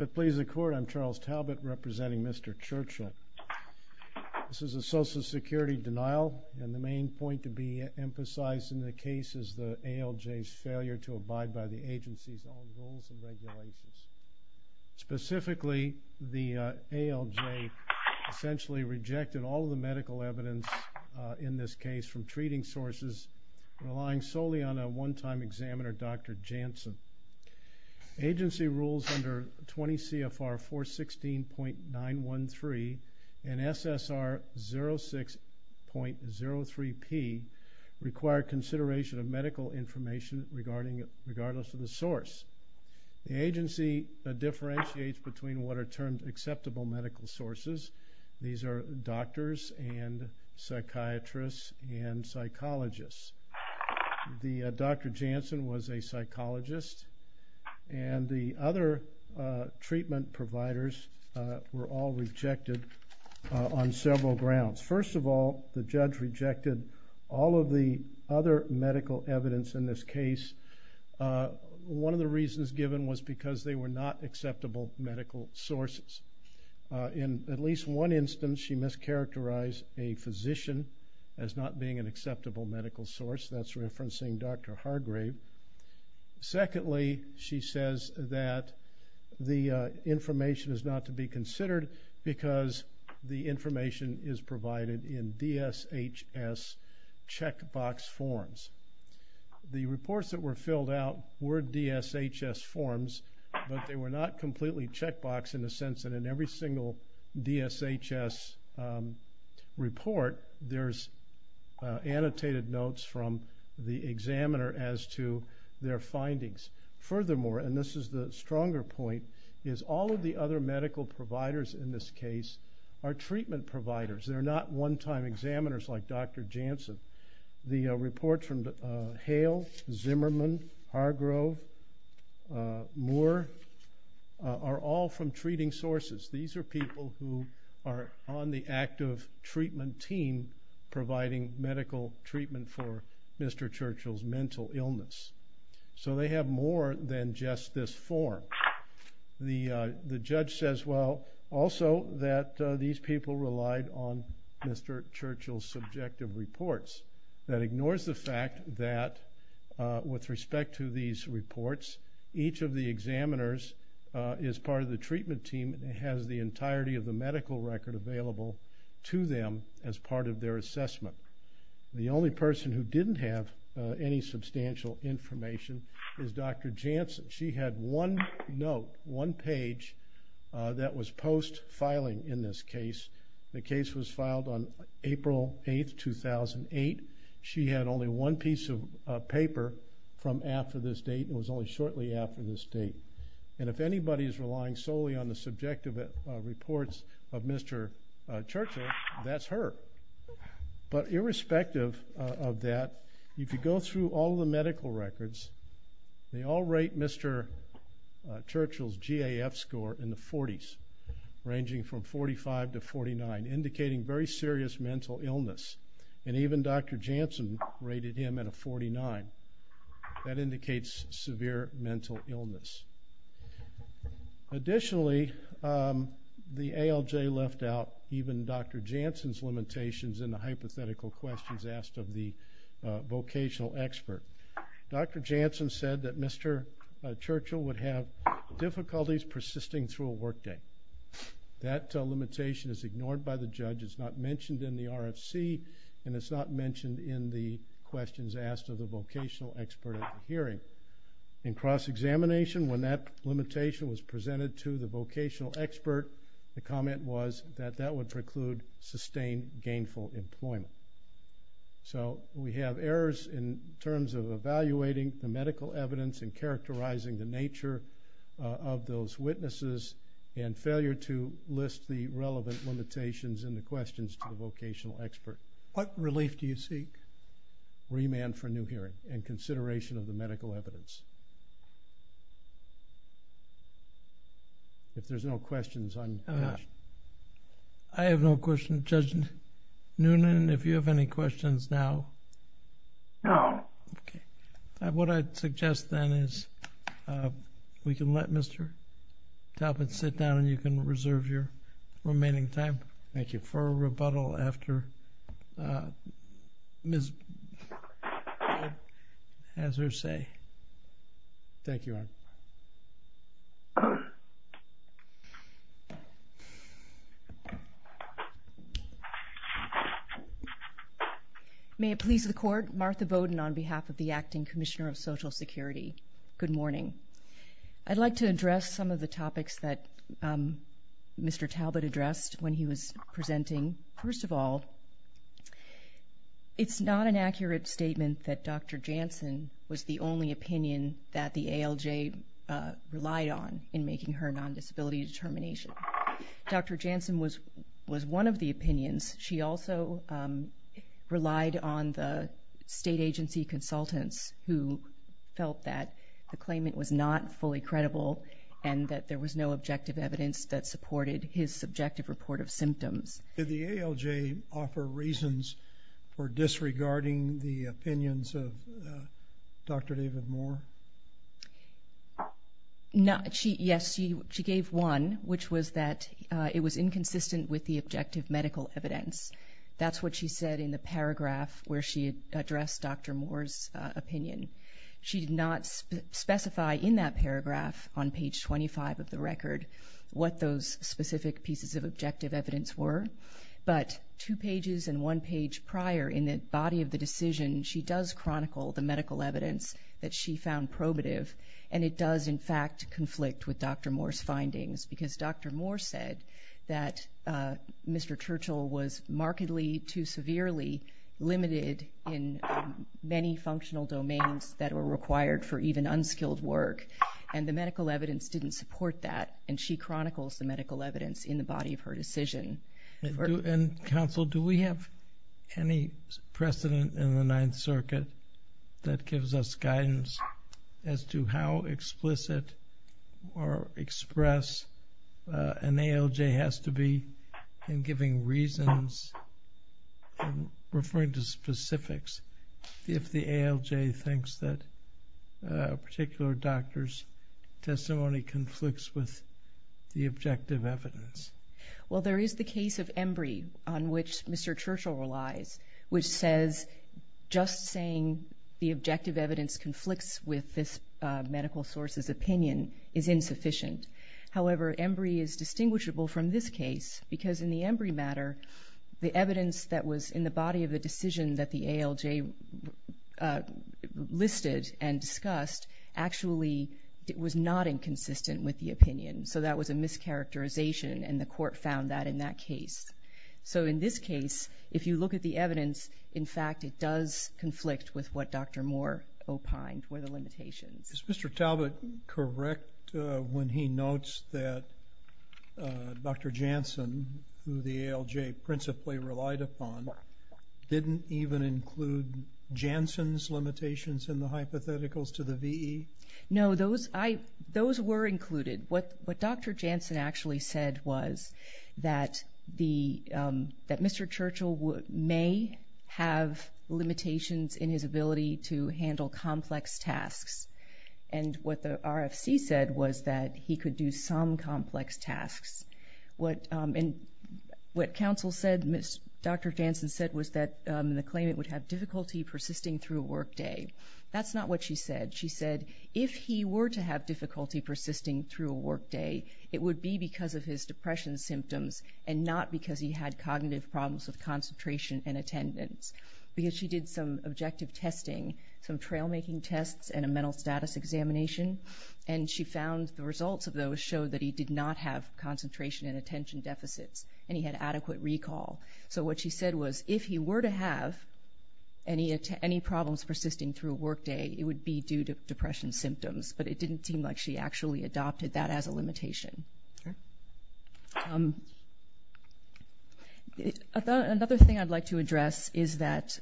5th Pleas of the Court, I'm Charles Talbot representing Mr. Churchill. This is a social security denial and the main point to be emphasized in the case is the ALJ's failure to abide by the agency's own rules and regulations. Specifically, the ALJ essentially rejected all of the medical evidence in this case from treating sources, relying solely on a one-time examiner, Dr. Janssen. Agency rules under 20 CFR 416.913 and SSR 06.03p require consideration of medical information regardless of the source. The agency differentiates between what are termed acceptable medical sources. These are doctors and psychiatrists and psychologists. Dr. Janssen was a psychologist and the other treatment providers were all rejected on several grounds. First of all, the judge rejected all of the other medical evidence in this case. One of the reasons given was because they were not acceptable medical sources. In at least one instance, she mischaracterized a physician as not being an acceptable medical source. That's referencing Dr. Hargrave. Secondly, she says that the information is not to be considered because the information is provided in DSHS checkbox forms. The reports that were filled out were DSHS forms, but they were not completely checkbox in the sense that in every single DSHS report there's annotated notes from the examiner as to their findings. Furthermore, and this is the stronger point, is all of the other medical providers in this case are treatment providers. They're not one-time examiners like Dr. Janssen. The reports from Hale, Zimmerman, Hargrove, Moore are all from treating sources. These are people who are on the active treatment team providing medical treatment for Mr. Churchill's mental illness. So they have more than just this form. The judge says, well, also that these people relied on Mr. Churchill's subjective reports. That ignores the fact that with respect to these reports, each of the examiners is part of the treatment team and has the entirety of the medical record available to them as part of their assessment. The only person who didn't have any substantial information is Dr. Janssen. She had one note, one page that was post-filing in this case. The case was filed on April 8, 2008. She had only one piece of paper from after this date and was only shortly after this date. And if anybody is relying solely on the subjective reports of Mr. Churchill, that's her. But irrespective of that, if you go through all the medical records, they all rate Mr. Churchill's GAF score in the 40s, ranging from 45 to 49, indicating very serious mental illness. And even Dr. Janssen rated him at a 49. That indicates severe mental illness. Additionally, the ALJ left out even Dr. Janssen's limitations in the hypothetical questions asked of the vocational expert. Dr. Janssen said that Mr. Churchill would have difficulties persisting through a workday. That limitation is ignored by the judge. It's not mentioned in the RFC and it's not mentioned in the questions asked of the vocational expert at the hearing. In cross-examination, when that limitation was presented to the vocational expert, the comment was that that would preclude sustained gainful employment. So we have errors in terms of evaluating the witnesses and failure to list the relevant limitations in the questions to the vocational expert. What relief do you seek? Remand for a new hearing and consideration of the medical evidence. If there's no questions, I'm finished. I have no question. Judge Noonan, if you have any questions now? No. Okay. What I'd suggest then is we can let Mr. Talbot sit down and you can reserve your remaining time for a rebuttal after Ms. Talbot has her say. Thank you. May it please the court, Martha Bowden on behalf of the Acting Commissioner of Security, good morning. I'd like to address some of the topics that Mr. Talbot addressed when he was presenting. First of all, it's not an accurate statement that Dr. Jansen was the only opinion that the ALJ relied on in making her non-disability determination. Dr. Jansen was was one of the opinions. She also relied on the state agency consultants who felt that the claimant was not fully credible and that there was no objective evidence that supported his subjective report of symptoms. Did the ALJ offer reasons for disregarding the opinions of Dr. David Moore? Yes, she gave one, which was that it was inconsistent with the objective medical evidence. That's what she said in the paragraph where she addressed Dr. Moore's opinion. She did not specify in that paragraph on page 25 of the record what those specific pieces of objective evidence were, but two pages and one page prior in the body of the decision, she does chronicle the medical evidence that she found probative and it Dr. Moore said that Mr. Churchill was markedly too severely limited in many functional domains that were required for even unskilled work and the medical evidence didn't support that and she chronicles the medical evidence in the body of her decision. Counsel, do we have any precedent in the Ninth that an ALJ has to be in giving reasons, referring to specifics, if the ALJ thinks that a particular doctor's testimony conflicts with the objective evidence? Well, there is the case of Embry on which Mr. Churchill relies, which says just saying the objective evidence conflicts with this medical source's opinion is insufficient. However, Embry is distinguishable from this case because in the Embry matter, the evidence that was in the body of the decision that the ALJ listed and discussed actually was not inconsistent with the opinion, so that was a mischaracterization and the court found that in that case. So in this case, if you look at the evidence, in fact it does conflict with what Dr. Moore opined were the limitations. Is Mr. Talbot correct when he notes that Dr. Janssen, who the ALJ principally relied upon, didn't even include Janssen's limitations in the hypotheticals to the VE? No, those were included. What Dr. Janssen actually said was that Mr. Churchill may have limitations in his ability to handle complex tasks and what the RFC said was that he could do some complex tasks. What counsel said, Dr. Janssen said was that the claimant would have difficulty persisting through a workday. That's not what she said. She said if he were to have difficulty persisting through a workday, it would be because of his depression symptoms and not because he had cognitive problems with concentration and attendance, because she did some objective testing, some trail-making tests and a mental status examination, and she found the results of those showed that he did not have concentration and attention deficits and he had adequate recall. So what she said was if he were to have any problems persisting through a workday, it would be due to depression symptoms, but it didn't seem like she actually adopted that as a limitation. Another thing I'd like to address is that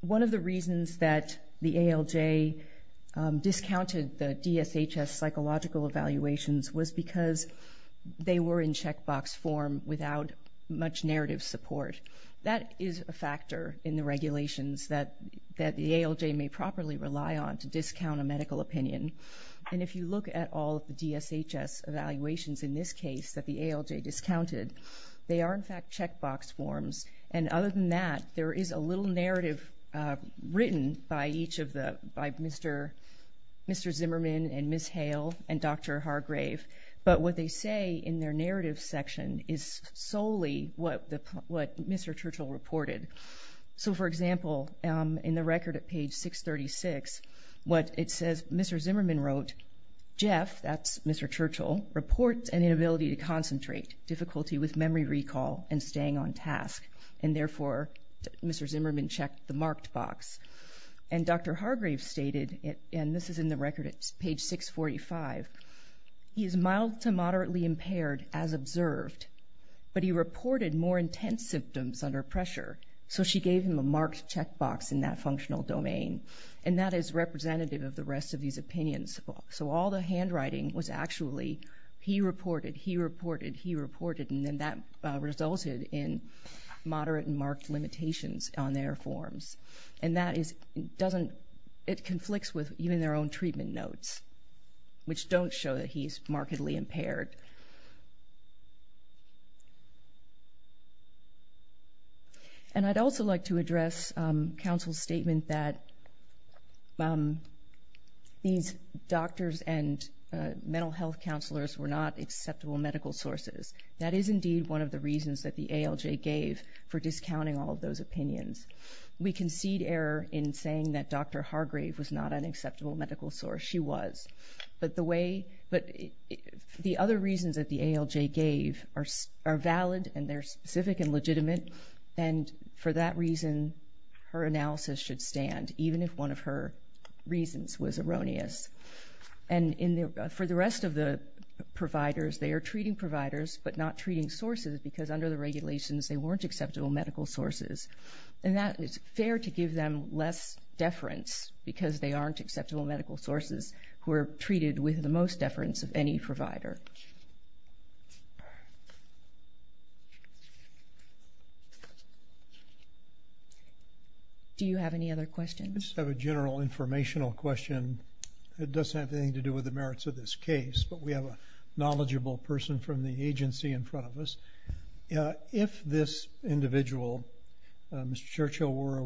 one of the reasons that the ALJ discounted the DSHS psychological evaluations was because they were in checkbox form without much narrative support. That is a factor in the regulations that that the ALJ may properly rely on to discount a medical opinion. And if you look at all of the DSHS evaluations in this case that the ALJ discounted, they are in fact checkbox forms. And other than that, there is a little narrative written by each of the, by Mr. Zimmerman and Ms. Hale and Dr. Hargrave, but what they say in their narrative section is solely what Mr. Churchill reported. So for example, in the record at page 636, what it says is Mr. Zimmerman wrote, Jeff, that's Mr. Churchill, reports an inability to concentrate, difficulty with memory recall, and staying on task, and therefore Mr. Zimmerman checked the marked box. And Dr. Hargrave stated, and this is in the record at page 645, he is mild to moderately impaired as observed, but he reported more intense symptoms under pressure, so she gave him a marked checkbox in that functional domain. And that is representative of the rest of these opinions. So all the handwriting was actually, he reported, he reported, he reported, and then that resulted in moderate and marked limitations on their forms. And that is, it doesn't, it conflicts with even their own treatment notes, which don't show that he's markedly impaired. And I'd also like to address counsel's statement that these doctors and mental health counselors were not acceptable medical sources. That is indeed one of the reasons that the ALJ gave for discounting all of those opinions. We concede error in saying that Dr. Hargrave was not an acceptable medical source. She was. But the way, but the other reasons that the ALJ gave are valid, and they're specific and legitimate, and for that reason her analysis should stand, even if one of her reasons was erroneous. And in the, for the rest of the providers, they are treating providers, but not treating sources because under the regulations they weren't acceptable medical sources. And that is fair to give them less deference because they aren't acceptable medical sources who are treated with the most deference of any provider. Do you have any other questions? I just have a general informational question. It doesn't have anything to do with the merits of this case, but we have a knowledgeable person from the agency in front of us. If this individual, Mr. Churchill, were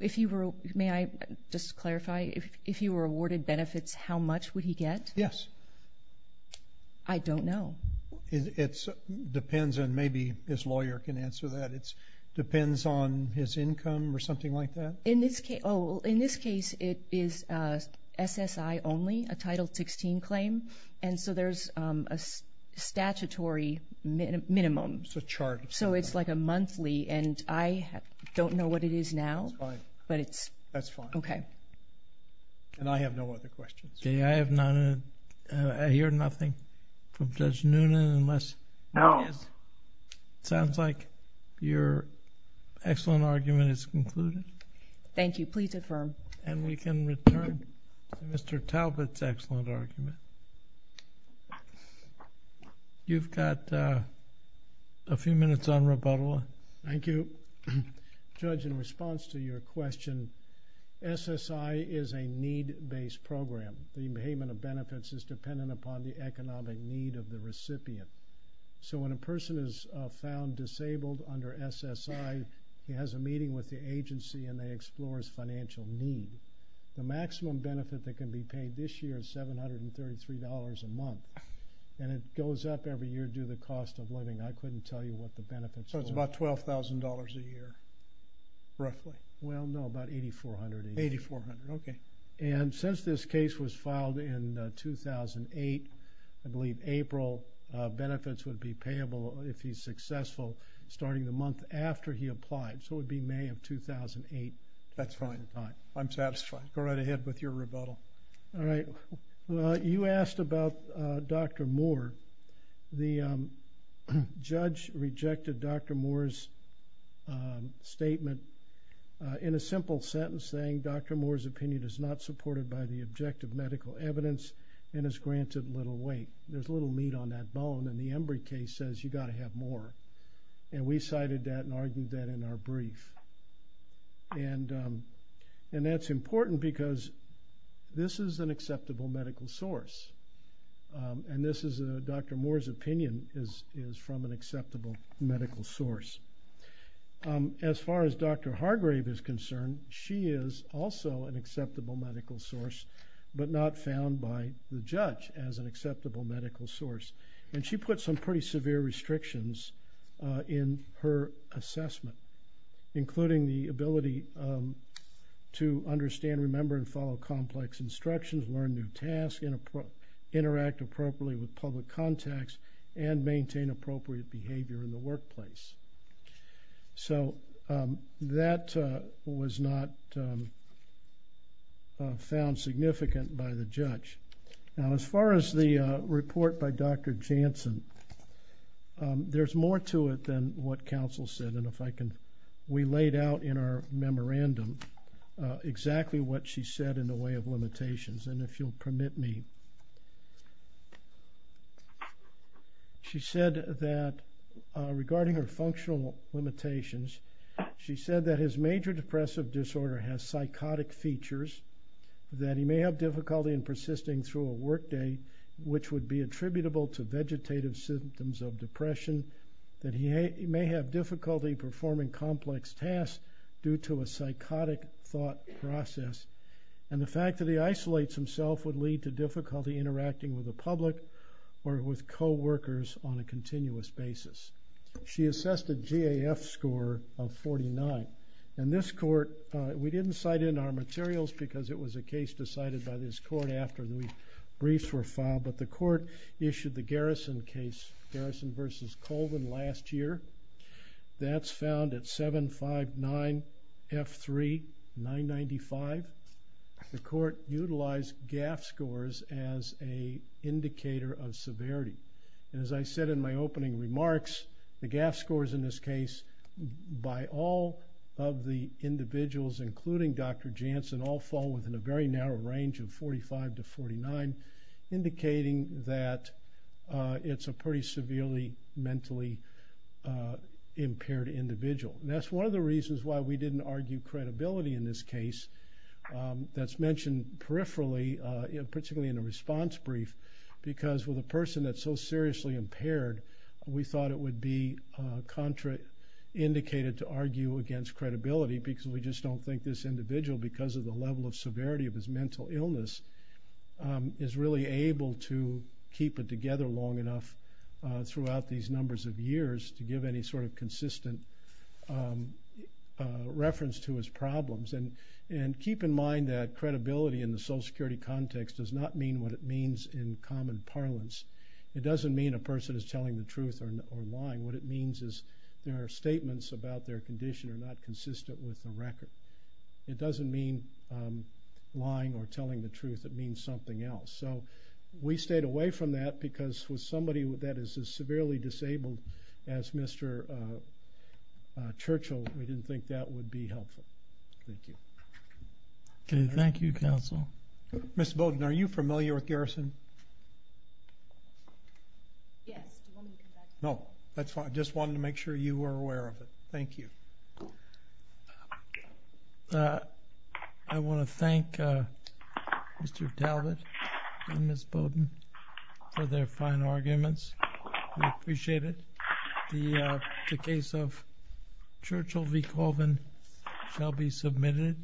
if you were, may I just clarify, if you were awarded benefits, how much would he get? Yes. I don't know. It depends, and maybe his lawyer can answer that. It depends on his income or something like that. In this case, oh, in this case it is SSI only, a Title 16 claim, and so there's a statutory minimum. It's a chart. So it's like a monthly, and I don't know what it is now. That's fine. Okay. And I have no other questions. Okay, I have none. I hear nothing from Judge Noonan unless... No. It sounds like your excellent argument is concluded. Thank you. Please affirm. And we can return to Mr. Talbot's excellent argument. You've got a few minutes on rebuttal. Thank you. Judge, in response to your question, SSI is a need-based program. The payment of benefits is dependent upon the economic need of the recipient. So when a person is found disabled under SSI, he has a meeting with the agency and they explore his financial need. The maximum benefit that can be paid this year is $733 a month, and it goes up every year due to the cost of benefits. So it's about $12,000 a year, roughly. Well, no, about $8,400. $8,400, okay. And since this case was filed in 2008, I believe April, benefits would be payable if he's successful starting the month after he applied. So it would be May of 2008. That's fine. I'm satisfied. Go right ahead with your rebuttal. All right. Well, you asked about Dr. Moore. The judge rejected Dr. Moore's statement in a simple sentence saying, Dr. Moore's opinion is not supported by the objective medical evidence and is granted little weight. There's little meat on that bone, and the Embry case says you got to have more. And we cited that and argued that in our brief. And that's important because this is an acceptable medical source, and Dr. Moore's opinion is from an acceptable medical source. As far as Dr. Hargrave is concerned, she is also an acceptable medical source, but not found by the judge as an acceptable medical source. And she put some pretty severe restrictions in her assessment, including the ability to understand, remember, and follow complex instructions, learn new tasks, interact appropriately with public contacts, and maintain appropriate behavior in the workplace. So that was not found significant by the judge. Now, as far as the report by Dr. Janssen, there's more to it than what counsel said. And if I could go back to what she said in the way of limitations, and if you'll permit me. She said that regarding her functional limitations, she said that his major depressive disorder has psychotic features, that he may have difficulty in persisting through a workday, which would be attributable to vegetative symptoms of depression, that he may have difficulty performing complex tasks due to a psychotic thought process, and the fact that he isolates himself would lead to difficulty interacting with the public or with co-workers on a continuous basis. She assessed a GAF score of 49. And this court, we didn't cite in our materials because it was a case decided by this court after the briefs were filed, but the court issued the Garrison case, Garrison versus Colvin last year. That's found at 759 F3 995. The court utilized GAF scores as a indicator of severity. And as I said in my opening remarks, the GAF scores in this case by all of the individuals, including Dr. Janssen, all fall within a very narrow range of 45 to 49, indicating that it's a pretty severely mentally impaired individual. That's one of the reasons why we didn't argue credibility in this case. That's mentioned peripherally, particularly in a response brief, because with a person that's so seriously impaired, we thought it would be contraindicated to argue against credibility, because we just don't think this individual, because of the level of severity of his mental illness, is really able to keep it together long enough throughout these numbers of years to give any sort of consistent reference to his problems. And keep in mind that credibility in the Social Security context does not mean what it means in common parlance. It doesn't mean a person is telling the truth or lying. What it means is their statements about their condition are not the truth. It means something else. So we stayed away from that, because with somebody that is as severely disabled as Mr. Churchill, we didn't think that would be helpful. Thank you. Thank you, counsel. Ms. Bowden, are you familiar with Garrison? Yes. No, that's fine. I just wanted to make sure you were Mr. Talbot and Ms. Bowden for their fine arguments. We appreciate it. The case of Churchill v. Colvin shall be submitted.